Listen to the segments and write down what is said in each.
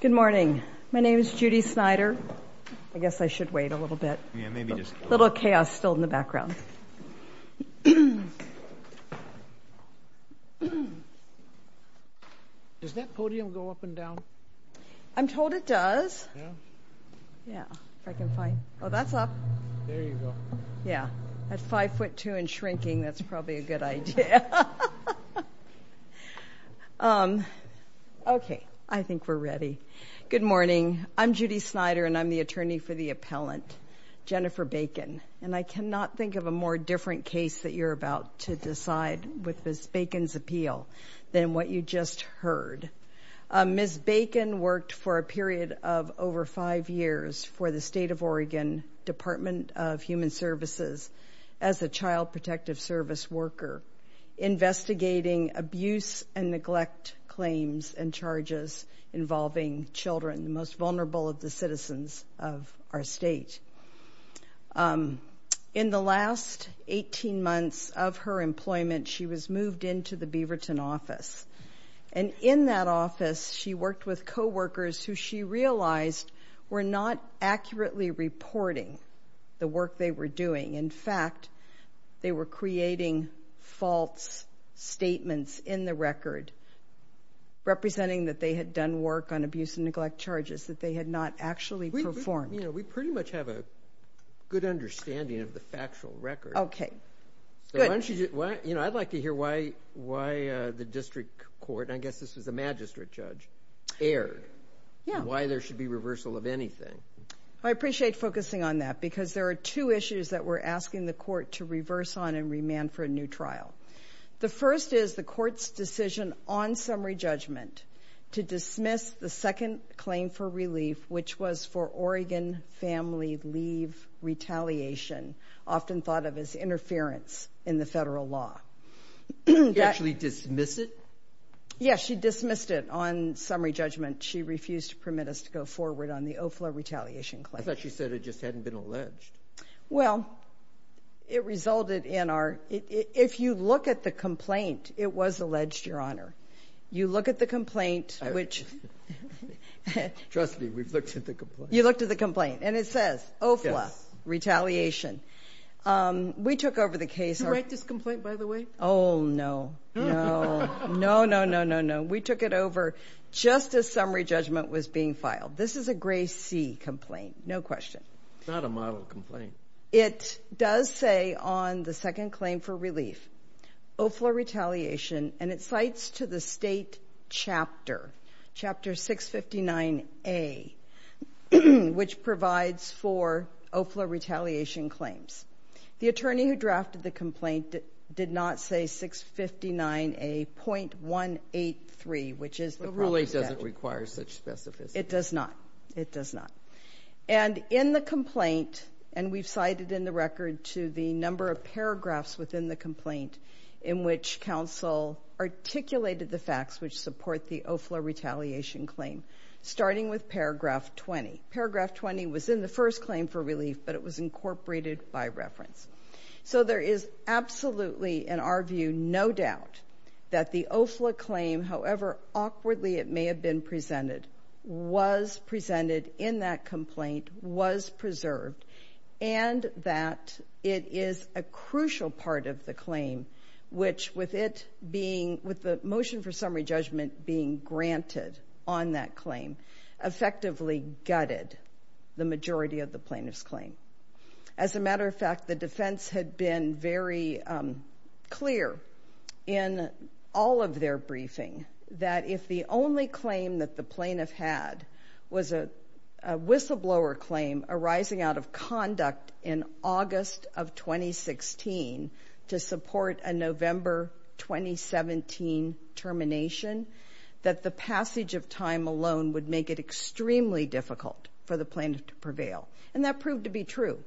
Good morning. My name is Judy Snyder. I guess I should wait a little bit. A little chaos still in the background. Does that podium go up and down? I'm told it does. Yeah? Yeah, if I can find... Oh, that's up. There you go. Yeah. At five foot two and shrinking, that's probably a good idea. Okay. I think we're ready. Good morning. I'm Judy Snyder, and I'm the attorney for the appellant, Jennifer Bacon. And I cannot think of a more different case that you're about to decide with Ms. Bacon's appeal than what you just heard. Ms. Bacon worked for a period of over five years for the State of Oregon Department of Human Services as a child protective service worker investigating abuse and neglect claims and charges involving children, the most vulnerable of the citizens of our state. In the last 18 months of her employment, she was moved into the Beaverton office. And in that office, she worked with coworkers who she realized were not accurately reporting the work they were doing. In fact, they were creating false statements in the record representing that they had done work on abuse and neglect charges that they had not actually performed. We pretty much have a good understanding of the factual record. Okay. Good. I'd like to hear why the district court, and I guess this was a magistrate judge, erred. Yeah. Why there should be reversal of anything. I appreciate focusing on that because there are two issues that we're asking the court to reverse on and remand for a new trial. The first is the court's decision on summary judgment to dismiss the second claim for relief, which was for Oregon family leave retaliation, often thought of as interference in the federal law. Did she actually dismiss it? Yes, she dismissed it on summary judgment. She refused to permit us to go forward on the OFLA retaliation claim. I thought she said it just hadn't been alleged. Well, it resulted in our ‑‑ if you look at the complaint, it was alleged, Your Honor. You look at the complaint, which ‑‑ Trust me, we've looked at the complaint. You looked at the complaint, and it says OFLA retaliation. We took over the case. Did you write this complaint, by the way? Oh, no. No. No, no, no, no, no. We took it over just as summary judgment was being filed. This is a Gray C complaint, no question. It's not a model complaint. It does say on the second claim for relief OFLA retaliation, and it cites to the state chapter, Chapter 659A, which provides for OFLA retaliation claims. The attorney who drafted the complaint did not say 659A.183, which is the proper statute. The ruling doesn't require such specificity. It does not. It does not. And in the complaint, and we've cited in the record to the number of paragraphs within the complaint in which counsel articulated the facts which support the OFLA retaliation claim, starting with paragraph 20. Paragraph 20 was in the first claim for relief, but it was incorporated by reference. So there is absolutely, in our view, no doubt that the OFLA claim, however awkwardly it may have been presented, was presented in that complaint, was preserved, and that it is a crucial part of the claim, which with it being, with the motion for summary judgment being granted on that claim, effectively gutted the majority of the plaintiff's claim. As a matter of fact, the defense had been very clear in all of their briefing that if the only claim that the plaintiff had was a whistleblower claim arising out of conduct in August of 2016 to support a November 2017 termination, that the passage of time alone would make it extremely difficult for the plaintiff to prevail. And that proved to be true.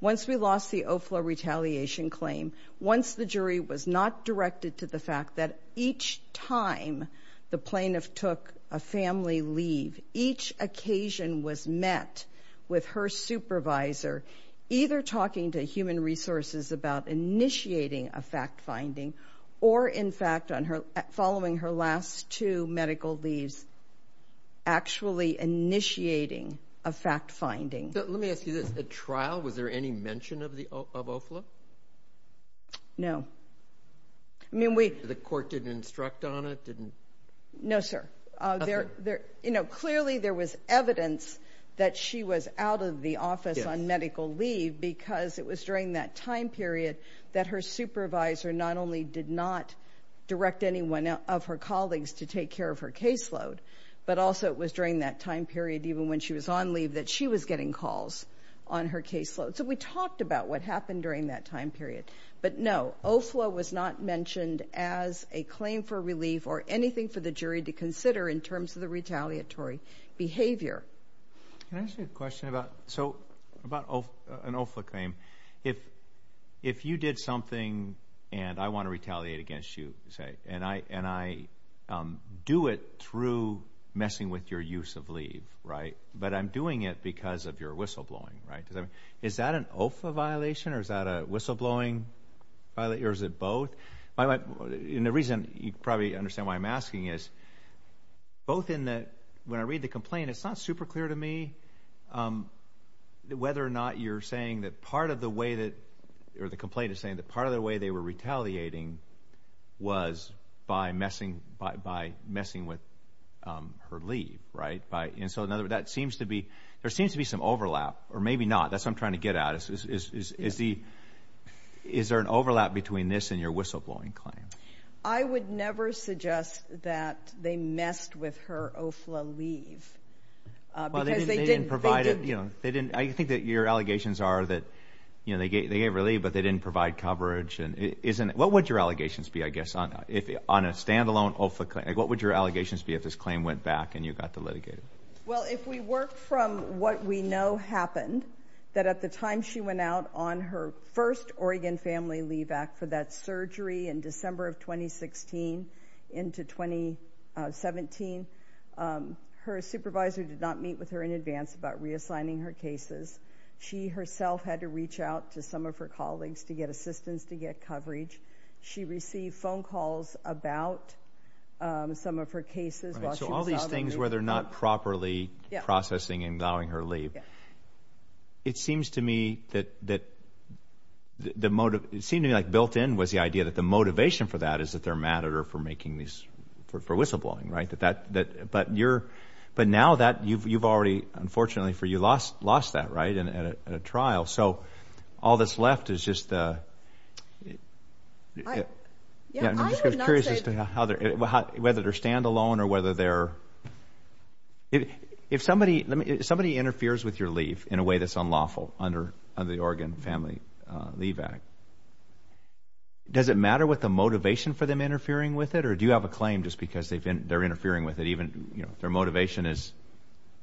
Once we lost the OFLA retaliation claim, once the jury was not directed to the fact that each time the plaintiff took a family leave, each occasion was met with her supervisor either talking to human resources about initiating a fact-finding or, in fact, following her last two medical leaves, actually initiating a fact-finding. Let me ask you this. At trial, was there any mention of OFLA? No. The court didn't instruct on it? No, sir. Clearly there was evidence that she was out of the office on medical leave because it was during that time period that her supervisor not only did not direct anyone of her colleagues to take care of her caseload, but also it was during that time period, even when she was on leave, that she was getting calls on her caseload. So we talked about what happened during that time period. But, no, OFLA was not mentioned as a claim for relief or anything for the jury to consider in terms of the retaliatory behavior. Can I ask you a question about an OFLA claim? If you did something and I want to retaliate against you, say, and I do it through messing with your use of leave, right, but I'm doing it because of your whistleblowing, right, is that an OFLA violation or is that a whistleblowing? Or is it both? And the reason you probably understand why I'm asking is both in that when I read the complaint, it's not super clear to me whether or not you're saying that part of the way that or the complaint is saying that part of the way they were retaliating was by messing with her leave, right? There seems to be some overlap or maybe not. That's what I'm trying to get at. Is there an overlap between this and your whistleblowing claim? I would never suggest that they messed with her OFLA leave because they didn't. I think that your allegations are that they gave relief but they didn't provide coverage. What would your allegations be, I guess, on a standalone OFLA claim? What would your allegations be if this claim went back and you got to litigate it? Well, if we work from what we know happened, that at the time she went out on her first Oregon Family Leave Act for that surgery in December of 2016 into 2017, her supervisor did not meet with her in advance about reassigning her cases. She herself had to reach out to some of her colleagues to get assistance to get coverage. She received phone calls about some of her cases while she was out on leave. So all these things where they're not properly processing and allowing her leave. Yeah. It seems to me like built in was the idea that the motivation for that is that they're mad at her for whistleblowing, right? But now that you've already, unfortunately for you, lost that, right, at a trial. So all that's left is just whether they're standalone or whether they're – if somebody interferes with your leave in a way that's unlawful under the Oregon Family Leave Act, does it matter what the motivation for them interfering with it? Or do you have a claim just because they're interfering with it even if their motivation is,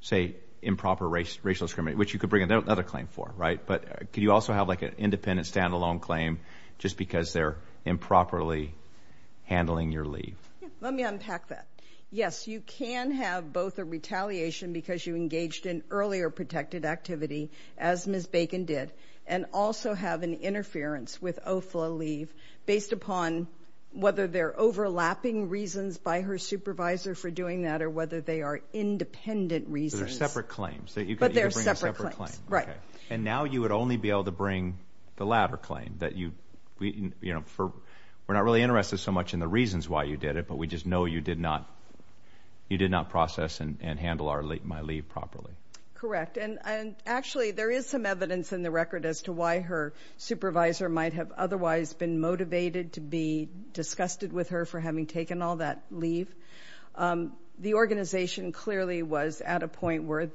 say, improper racial discrimination, which you could bring another claim for, right? But could you also have like an independent standalone claim just because they're improperly handling your leave? Let me unpack that. Yes, you can have both a retaliation because you engaged in earlier protected activity, as Ms. Bacon did, and also have an interference with OFLA leave based upon whether they're overlapping reasons by her supervisor for doing that or whether they are independent reasons. So they're separate claims. But they're separate claims, right. Okay. And now you would only be able to bring the latter claim that you – we're not really interested so much in the reasons why you did it, but we just know you did not process and handle my leave properly. Correct. And actually there is some evidence in the record as to why her supervisor might have otherwise been motivated to be disgusted with her for having taken all that leave. The organization clearly was at a point where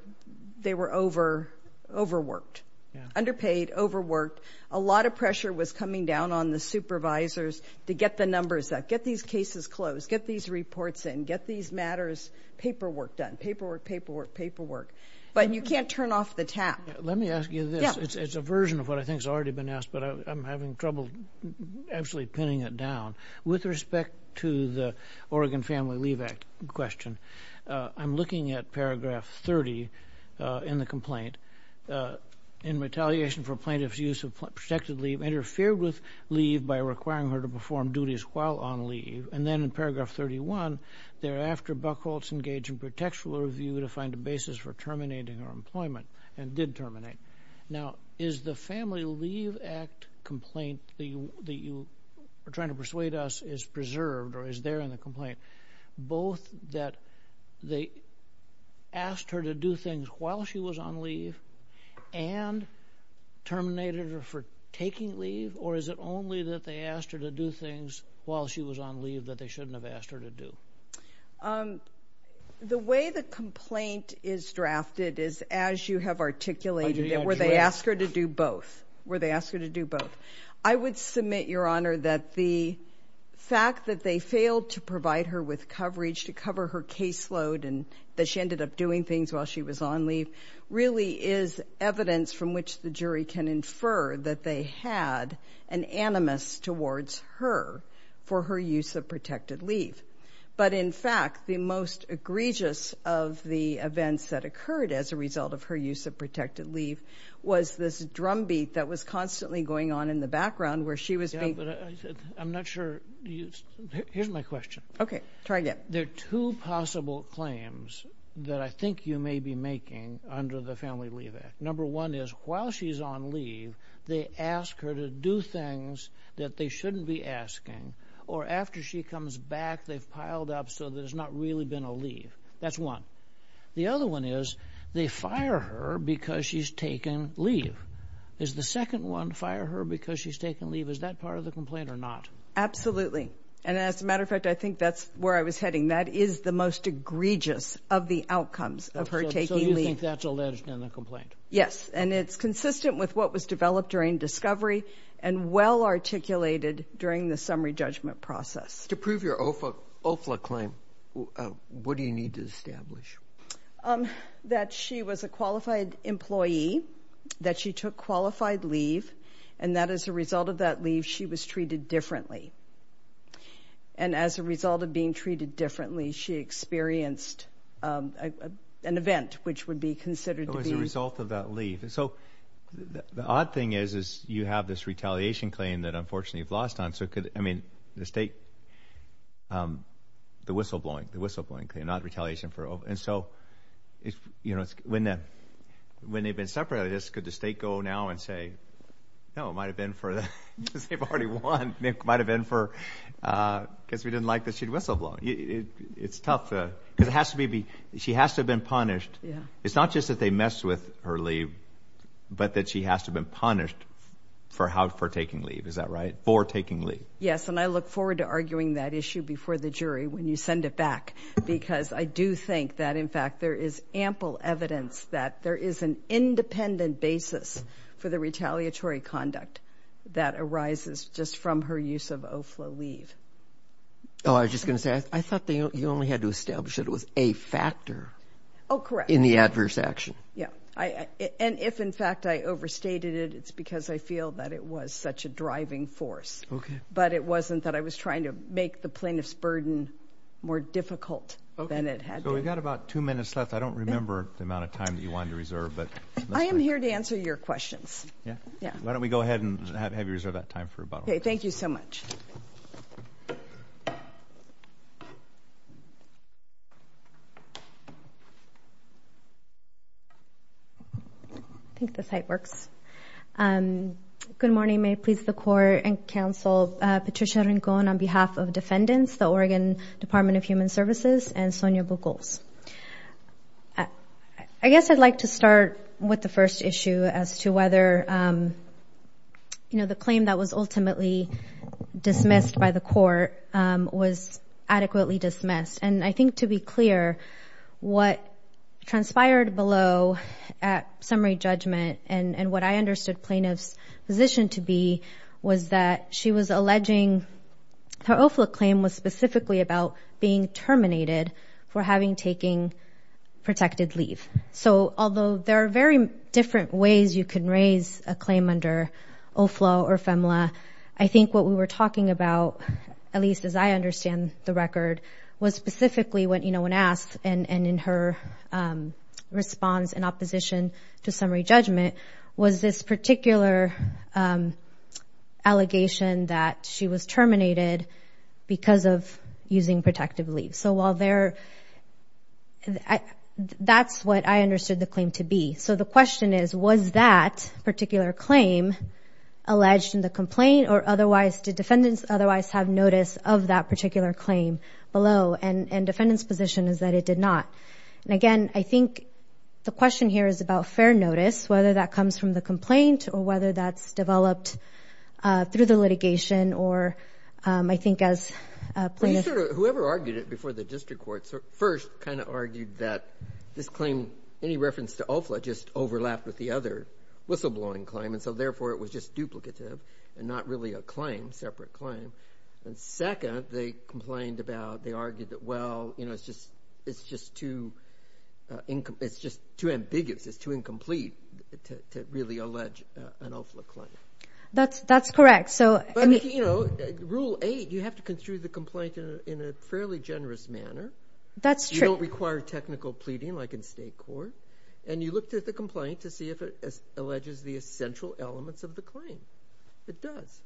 they were overworked, underpaid, overworked. A lot of pressure was coming down on the supervisors to get the numbers up, get these cases closed, get these reports in, get these matters paperwork done, paperwork, paperwork, paperwork. But you can't turn off the tap. Let me ask you this. It's a version of what I think has already been asked, but I'm having trouble actually pinning it down. With respect to the Oregon Family Leave Act question, I'm looking at Paragraph 30 in the complaint. In retaliation for plaintiff's use of protected leave, interfered with leave by requiring her to perform duties while on leave. And then in Paragraph 31, thereafter, Buckholtz engaged in protectful review to find a basis for terminating her employment and did terminate. Now, is the Family Leave Act complaint that you are trying to persuade us is preserved or is there in the complaint both that they asked her to do things while she was on leave and terminated her for taking leave, or is it only that they asked her to do things while she was on leave that they shouldn't have asked her to do? The way the complaint is drafted is as you have articulated it, where they ask her to do both. Where they ask her to do both. I would submit, Your Honor, that the fact that they failed to provide her with coverage to cover her caseload and that she ended up doing things while she was on leave really is evidence from which the jury can infer that they had an animus towards her for her use of protected leave. But, in fact, the most egregious of the events that occurred as a result of her use of protected leave was this drumbeat that was constantly going on in the background where she was being... Yeah, but I'm not sure... Here's my question. Okay. Try again. There are two possible claims that I think you may be making under the Family Leave Act. Number one is, while she's on leave, they ask her to do things that they shouldn't be asking, or after she comes back, they've piled up so there's not really been a leave. That's one. The other one is, they fire her because she's taken leave. Is the second one, fire her because she's taken leave, is that part of the complaint or not? Absolutely. And, as a matter of fact, I think that's where I was heading. That is the most egregious of the outcomes of her taking leave. So you think that's alleged in the complaint? Yes, and it's consistent with what was developed during discovery and well articulated during the summary judgment process. To prove your OFLA claim, what do you need to establish? That she was a qualified employee, that she took qualified leave, and that, as a result of that leave, she was treated differently. And, as a result of being treated differently, she experienced an event which would be considered to be... It was a result of that leave. So the odd thing is, is you have this retaliation claim that, unfortunately, you've lost on... So could, I mean, the state, the whistleblowing, the whistleblowing claim, not retaliation for OFLA. And so, you know, when they've been separated, could the state go now and say, No, it might have been for the, because they've already won. It might have been for, because we didn't like that she'd whistleblown. It's tough, because it has to be, she has to have been punished. It's not just that they messed with her leave, but that she has to have been punished for taking leave. Is that right? For taking leave. Yes, and I look forward to arguing that issue before the jury when you send it back, because I do think that, in fact, there is ample evidence that there is an independent basis for the retaliatory conduct that arises just from her use of OFLA leave. Oh, I was just going to say, I thought you only had to establish that it was a factor. Oh, correct. In the adverse action. Yeah, and if, in fact, I overstated it, it's because I feel that it was such a driving force. Okay. But it wasn't that I was trying to make the plaintiff's burden more difficult than it had to be. Okay, so we've got about two minutes left. I don't remember the amount of time that you wanted to reserve. I am here to answer your questions. Yeah, why don't we go ahead and have you reserve that time for rebuttal. Okay, thank you so much. I think the site works. Good morning. May it please the court and counsel, Patricia Rincon on behalf of defendants, the Oregon Department of Human Services, and Sonia Bugles. I guess I'd like to start with the first issue as to whether, you know, the claim that was ultimately dismissed by the court was adequately dismissed. And I think, to be clear, what transpired below at summary judgment and what I understood plaintiff's position to be was that she was alleging her OFLA claim was specifically about being terminated for having taken protected leave. So although there are very different ways you can raise a claim under OFLA or FEMLA, I think what we were talking about, at least as I understand the record, was specifically when asked and in her response in opposition to summary judgment, was this particular allegation that she was terminated because of using protected leave. So while there – that's what I understood the claim to be. So the question is, was that particular claim alleged in the complaint or otherwise did defendants otherwise have notice of that particular claim below? And defendant's position is that it did not. And, again, I think the question here is about fair notice, whether that comes from the complaint or whether that's developed through the litigation or, I think, as plaintiffs. Whoever argued it before the district court first kind of argued that this claim, any reference to OFLA, just overlapped with the other whistleblowing claim, and so therefore it was just duplicative and not really a claim, separate claim. And second, they complained about – they argued that, well, it's just too ambiguous, it's too incomplete to really allege an OFLA claim. That's correct. Rule 8, you have to construe the complaint in a fairly generous manner. That's true. You don't require technical pleading like in state court. And you look at the complaint to see if it alleges the essential elements of the claim. It does.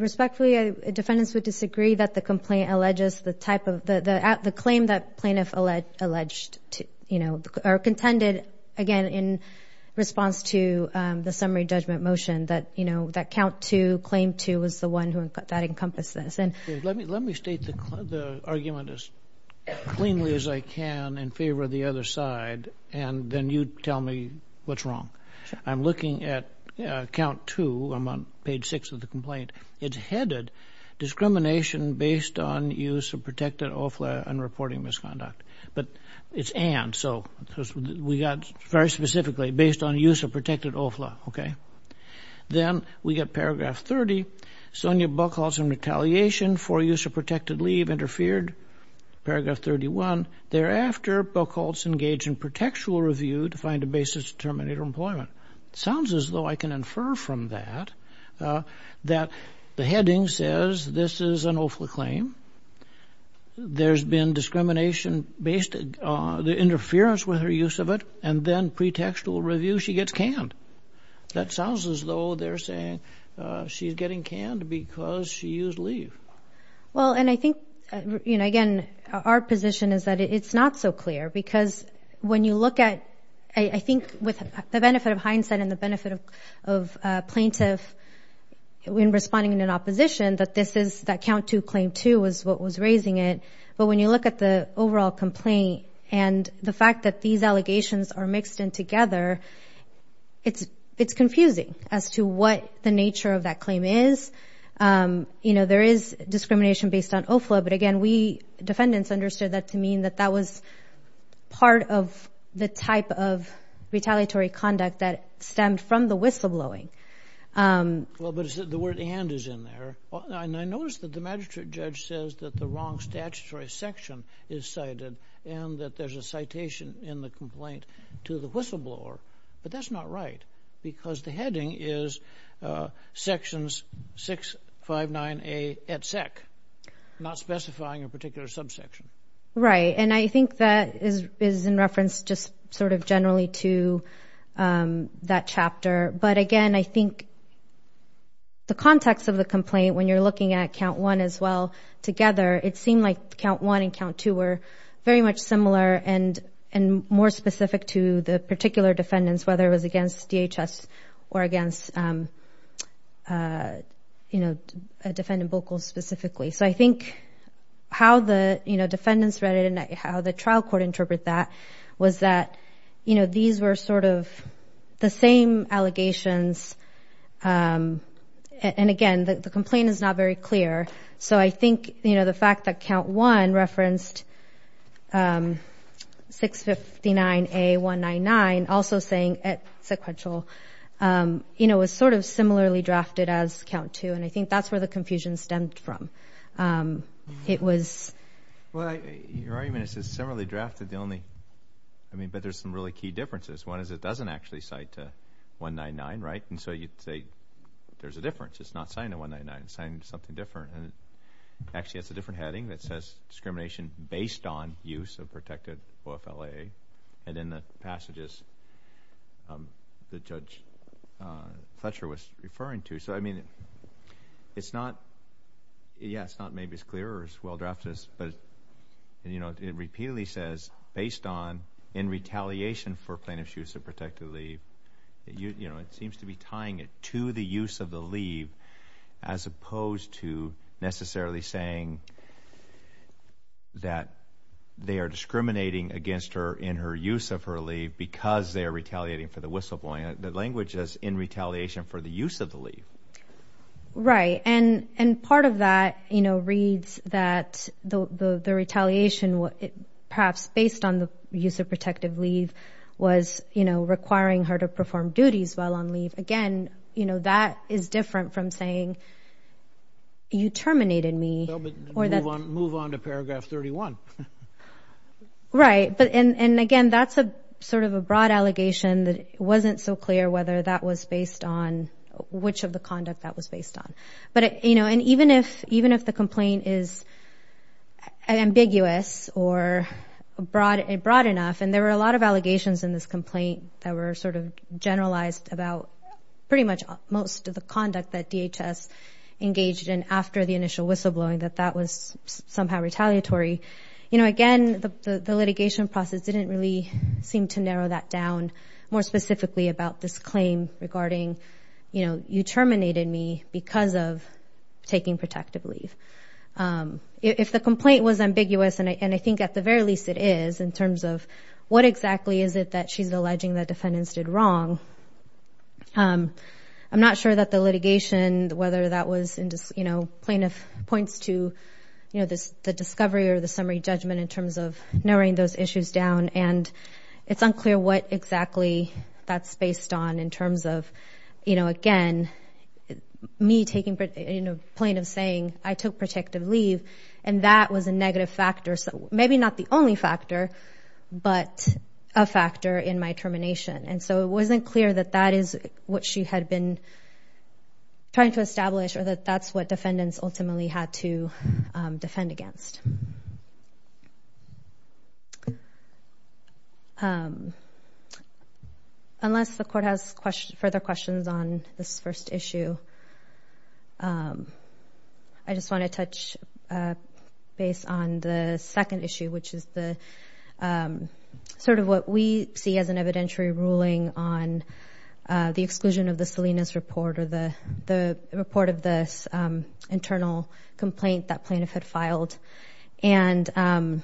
Respectfully, defendants would disagree that the complaint alleges the type of – the claim that plaintiff alleged or contended, again, in response to the summary judgment motion that count 2, claim 2 was the one that encompassed this. Let me state the argument as cleanly as I can in favor of the other side, and then you tell me what's wrong. I'm looking at count 2. I'm on page 6 of the complaint. It's headed discrimination based on use of protected OFLA and reporting misconduct. But it's and, so we got very specifically based on use of protected OFLA, okay? Then we got paragraph 30, Sonja Buchholz in retaliation for use of protected leave interfered, paragraph 31. Thereafter, Buchholz engaged in protectual review to find a basis to terminate her employment. It sounds as though I can infer from that that the heading says this is an OFLA claim, there's been discrimination based on the interference with her use of it, and then pre-textual review, she gets canned. That sounds as though they're saying she's getting canned because she used leave. Well, and I think, you know, again, our position is that it's not so clear because when you look at, I think with the benefit of hindsight and the benefit of plaintiff when responding in an opposition that this is that count 2 claim 2 was what was raising it. But when you look at the overall complaint and the fact that these allegations are mixed in together, it's confusing as to what the nature of that claim is. You know, there is discrimination based on OFLA, but again, we defendants understood that to mean that that was part of the type of retaliatory conduct that stemmed from the whistleblowing. Well, but the word and is in there. And I noticed that the magistrate judge says that the wrong statutory section is cited and that there's a citation in the complaint to the whistleblower, but that's not right because the heading is sections 659A et sec, not specifying a particular subsection. Right. And I think that is in reference just sort of generally to that chapter. But again, I think the context of the complaint when you're looking at count 1 as well together, it seemed like count 1 and count 2 were very much similar and more specific to the particular defendants, whether it was against DHS or against, you know, defendant vocals specifically. So I think how the, you know, defendants read it and how the trial court interpret that was that, you know, these were sort of the same allegations. And again, the complaint is not very clear. So I think, you know, the fact that count 1 referenced 659A199 also saying et sequential, you know, was sort of similarly drafted as count 2, and I think that's where the confusion stemmed from. It was. Well, your argument is similarly drafted, but there's some really key differences. One is it doesn't actually cite 199, right? And so you'd say there's a difference. It's not citing 199. It's citing something different. Actually, it's a different heading that says discrimination based on use of protected OFLA. And in the passages that Judge Fletcher was referring to. So, I mean, it's not, yeah, it's not maybe as clear or as well drafted as, but, you know, it repeatedly says based on in retaliation for plaintiff's use of protected leave. You know, it seems to be tying it to the use of the leave as opposed to necessarily saying that they are discriminating against her in her use of her leave because they are retaliating for the whistleblowing. The language is in retaliation for the use of the leave. Right. And part of that, you know, reads that the retaliation, perhaps based on the use of protected leave, was, you know, requiring her to perform duties while on leave. Again, you know, that is different from saying you terminated me. Move on to paragraph 31. Right. And, again, that's sort of a broad allegation that wasn't so clear whether that was based on which of the conduct that was based on. But, you know, and even if the complaint is ambiguous or broad enough, and there were a lot of allegations in this complaint that were sort of generalized about pretty much most of the conduct that DHS engaged in after the initial whistleblowing, that that was somehow retaliatory. You know, again, the litigation process didn't really seem to narrow that down more specifically about this claim regarding, you know, you terminated me because of taking protected leave. If the complaint was ambiguous, and I think at the very least it is, in terms of what exactly is it that she's alleging the defendants did wrong, I'm not sure that the litigation, whether that was, you know, plaintiff points to, you know, the discovery or the summary judgment in terms of narrowing those issues down. And it's unclear what exactly that's based on in terms of, you know, again, me taking, you know, plaintiff saying, I took protective leave, and that was a negative factor. Maybe not the only factor, but a factor in my termination. And so it wasn't clear that that is what she had been trying to establish or that that's what defendants ultimately had to defend against. Unless the court has further questions on this first issue, I just want to touch base on the second issue, which is the sort of what we see as an evidentiary ruling on the exclusion of the Salinas report or the report of this internal complaint that plaintiff had filed. And,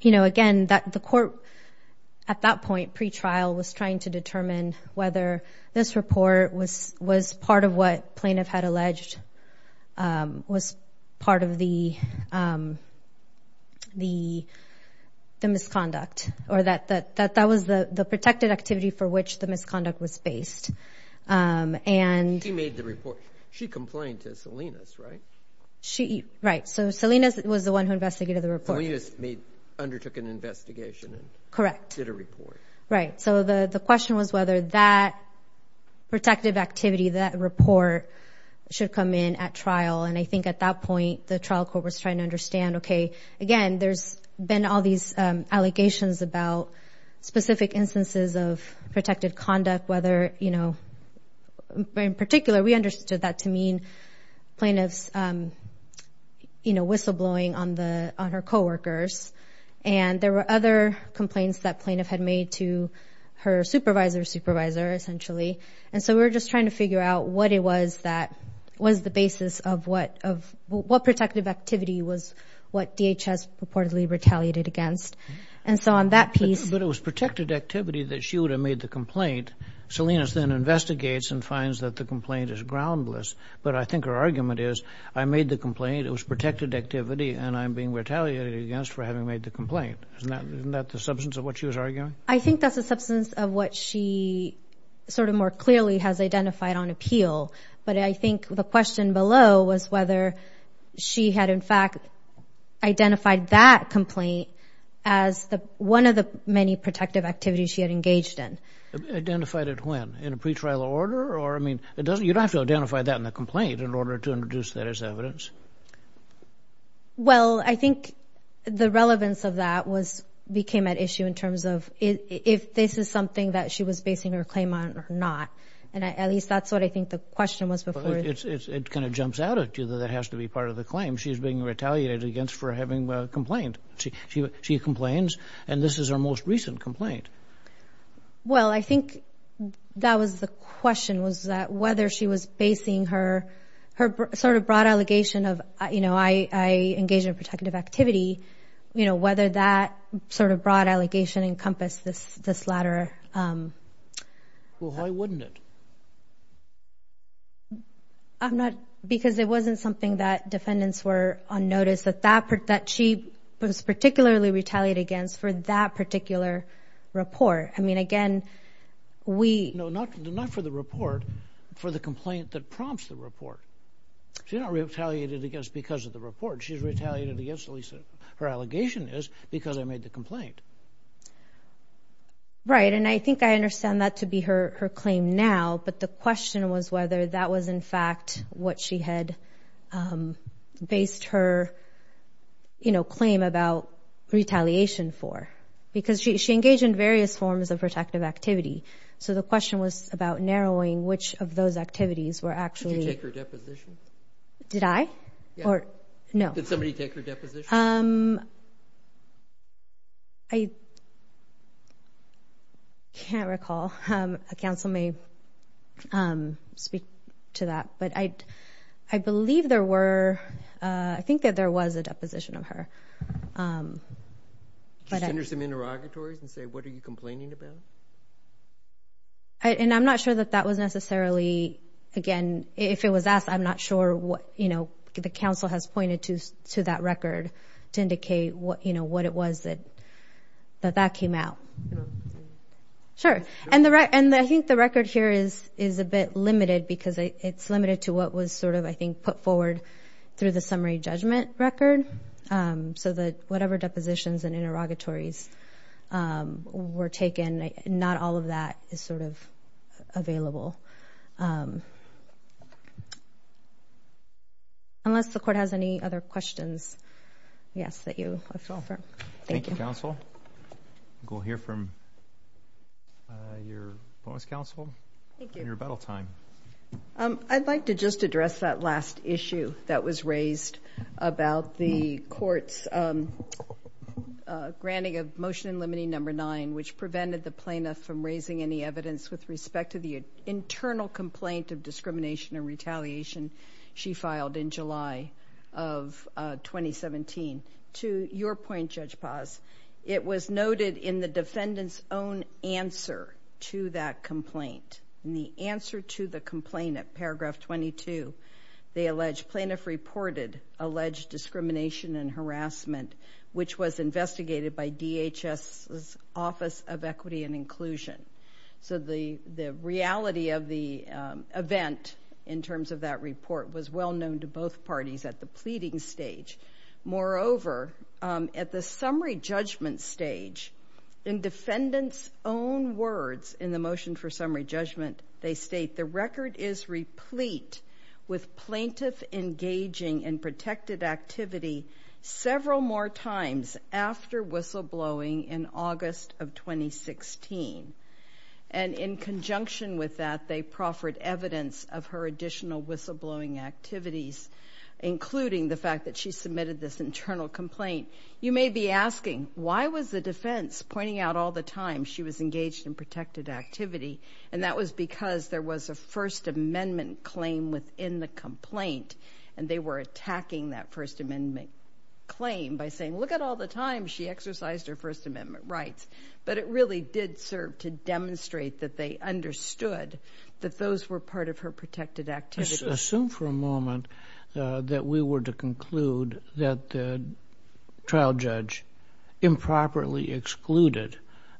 you know, again, the court at that point pre-trial was trying to determine whether this report was part of what the misconduct or that that was the protected activity for which the misconduct was based. She made the report. She complained to Salinas, right? Right. So Salinas was the one who investigated the report. Salinas undertook an investigation. Correct. Did a report. Right. So the question was whether that protective activity, that report, should come in at trial. And I think at that point the trial court was trying to understand, okay, again, there's been all these allegations about specific instances of protected conduct, whether, you know, in particular, we understood that to mean plaintiff's, you know, whistleblowing on her coworkers. And there were other complaints that plaintiff had made to her supervisor's supervisor, essentially. And so we were just trying to figure out what it was that was the basis of what protective activity was what DHS reportedly retaliated against. And so on that piece. But it was protected activity that she would have made the complaint. Salinas then investigates and finds that the complaint is groundless. But I think her argument is, I made the complaint, it was protected activity, and I'm being retaliated against for having made the complaint. Isn't that the substance of what she was arguing? I think that's the substance of what she sort of more clearly has identified on appeal. But I think the question below was whether she had, in fact, identified that complaint as one of the many protective activities she had engaged in. Identified it when? In a pretrial order? Or, I mean, you don't have to identify that in the complaint in order to introduce that as evidence. Well, I think the relevance of that became at issue in terms of if this is something that she was basing her claim on or not. And at least that's what I think the question was before. It kind of jumps out at you that that has to be part of the claim. She's being retaliated against for having complained. She complains, and this is her most recent complaint. Well, I think that was the question was that whether she was basing her sort of broad allegation of, you know, I engaged in protective activity, you know, whether that sort of broad allegation encompassed this latter. Well, why wouldn't it? I'm not – because it wasn't something that defendants were unnoticed, that she was particularly retaliated against for that particular report. I mean, again, we – No, not for the report, for the complaint that prompts the report. She's not retaliated against because of the report. She's retaliated against, at least her allegation is, because I made the complaint. Right, and I think I understand that to be her claim now, but the question was whether that was, in fact, what she had based her, you know, claim about retaliation for, because she engaged in various forms of protective activity. So the question was about narrowing which of those activities were actually – Did you take her deposition? Did I? Or – no. Did somebody take her deposition? I can't recall. A counsel may speak to that. But I believe there were – I think that there was a deposition of her. Did you send her some interrogatories and say, what are you complaining about? And I'm not sure that that was necessarily – again, if it was us, I'm not sure what, you know, the counsel has pointed to that record to indicate, you know, what it was that that came out. Sure. And I think the record here is a bit limited because it's limited to what was sort of, I think, put forward through the summary judgment record. So that whatever depositions and interrogatories were taken, not all of that is sort of available. Unless the Court has any other questions, yes, that you would like to offer. Thank you. Thank you, counsel. I think we'll hear from your bonus counsel. Thank you. On your rebuttal time. I'd like to just address that last issue that was raised about the Court's granting of motion limiting number nine, which prevented the plaintiff from raising any evidence with respect to the internal complaint of discrimination and retaliation she filed in July of 2017. To your point, Judge Paz, it was noted in the defendant's own answer to that complaint. In the answer to the complaint at paragraph 22, they allege plaintiff reported alleged discrimination and harassment, which was investigated by DHS's Office of Equity and Inclusion. So the reality of the event in terms of that report was well known to both parties at the pleading stage. Moreover, at the summary judgment stage, in defendant's own words in the motion for summary judgment, they state the record is replete with plaintiff engaging in protected activity several more times after whistleblowing in August of 2016. And in conjunction with that, they proffered evidence of her additional whistleblowing activities, including the fact that she submitted this internal complaint. You may be asking, why was the defense pointing out all the times she was engaged in protected activity? And that was because there was a First Amendment claim within the complaint, and they were attacking that First Amendment claim by saying, look at all the times she exercised her First Amendment rights. But it really did serve to demonstrate that they understood that those were part of her protected activities. Let's assume for a moment that we were to conclude that the trial judge improperly excluded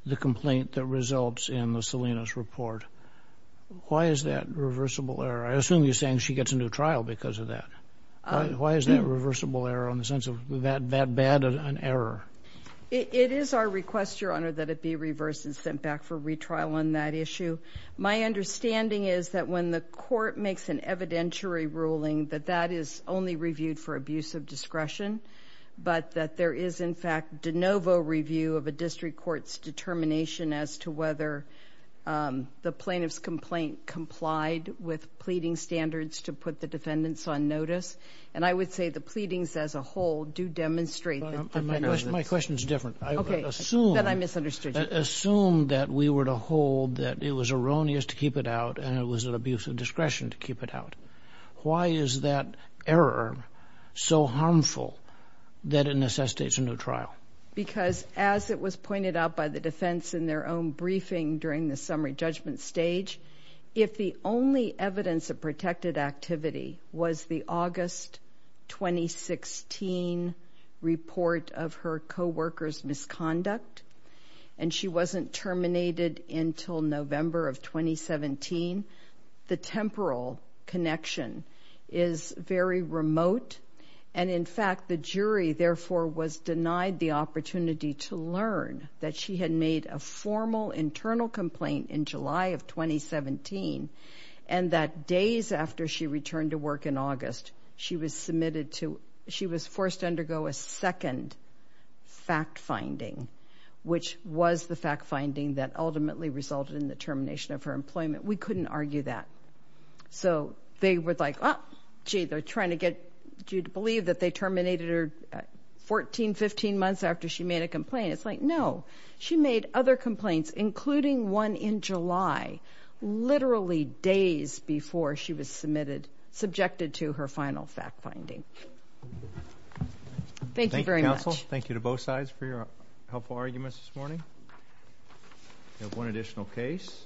the complaint that results in the Salinas report. Why is that reversible error? I assume you're saying she gets a new trial because of that. Why is that reversible error in the sense of that bad an error? It is our request, Your Honor, that it be reversed and sent back for retrial on that issue. My understanding is that when the court makes an evidentiary ruling, that that is only reviewed for abuse of discretion, but that there is, in fact, de novo review of a district court's determination as to whether the plaintiff's complaint complied with pleading standards to put the defendants on notice. And I would say the pleadings as a whole do demonstrate that the defendant knows this. My question is different. Okay. That I misunderstood you. Let's assume that we were to hold that it was erroneous to keep it out and it was an abuse of discretion to keep it out. Why is that error so harmful that it necessitates a new trial? Because as it was pointed out by the defense in their own briefing during the summary judgment stage, if the only evidence of protected activity was the August 2016 report of her co-worker's misconduct and she wasn't terminated until November of 2017, the temporal connection is very remote. And, in fact, the jury, therefore, was denied the opportunity to learn that she had made a formal internal complaint in July of 2017 and that days after she returned to work in August, she was submitted to ‑‑ she was forced to undergo a second fact finding, which was the fact finding that ultimately resulted in the termination of her employment. We couldn't argue that. So they were like, oh, gee, they're trying to get you to believe that they terminated her 14, 15 months after she made a complaint. It's like, no, she made other complaints, including one in July, literally days before she was submitted, subjected to her final fact finding. Thank you very much. Thank you, counsel. Thank you to both sides for your helpful arguments this morning. We have one additional case.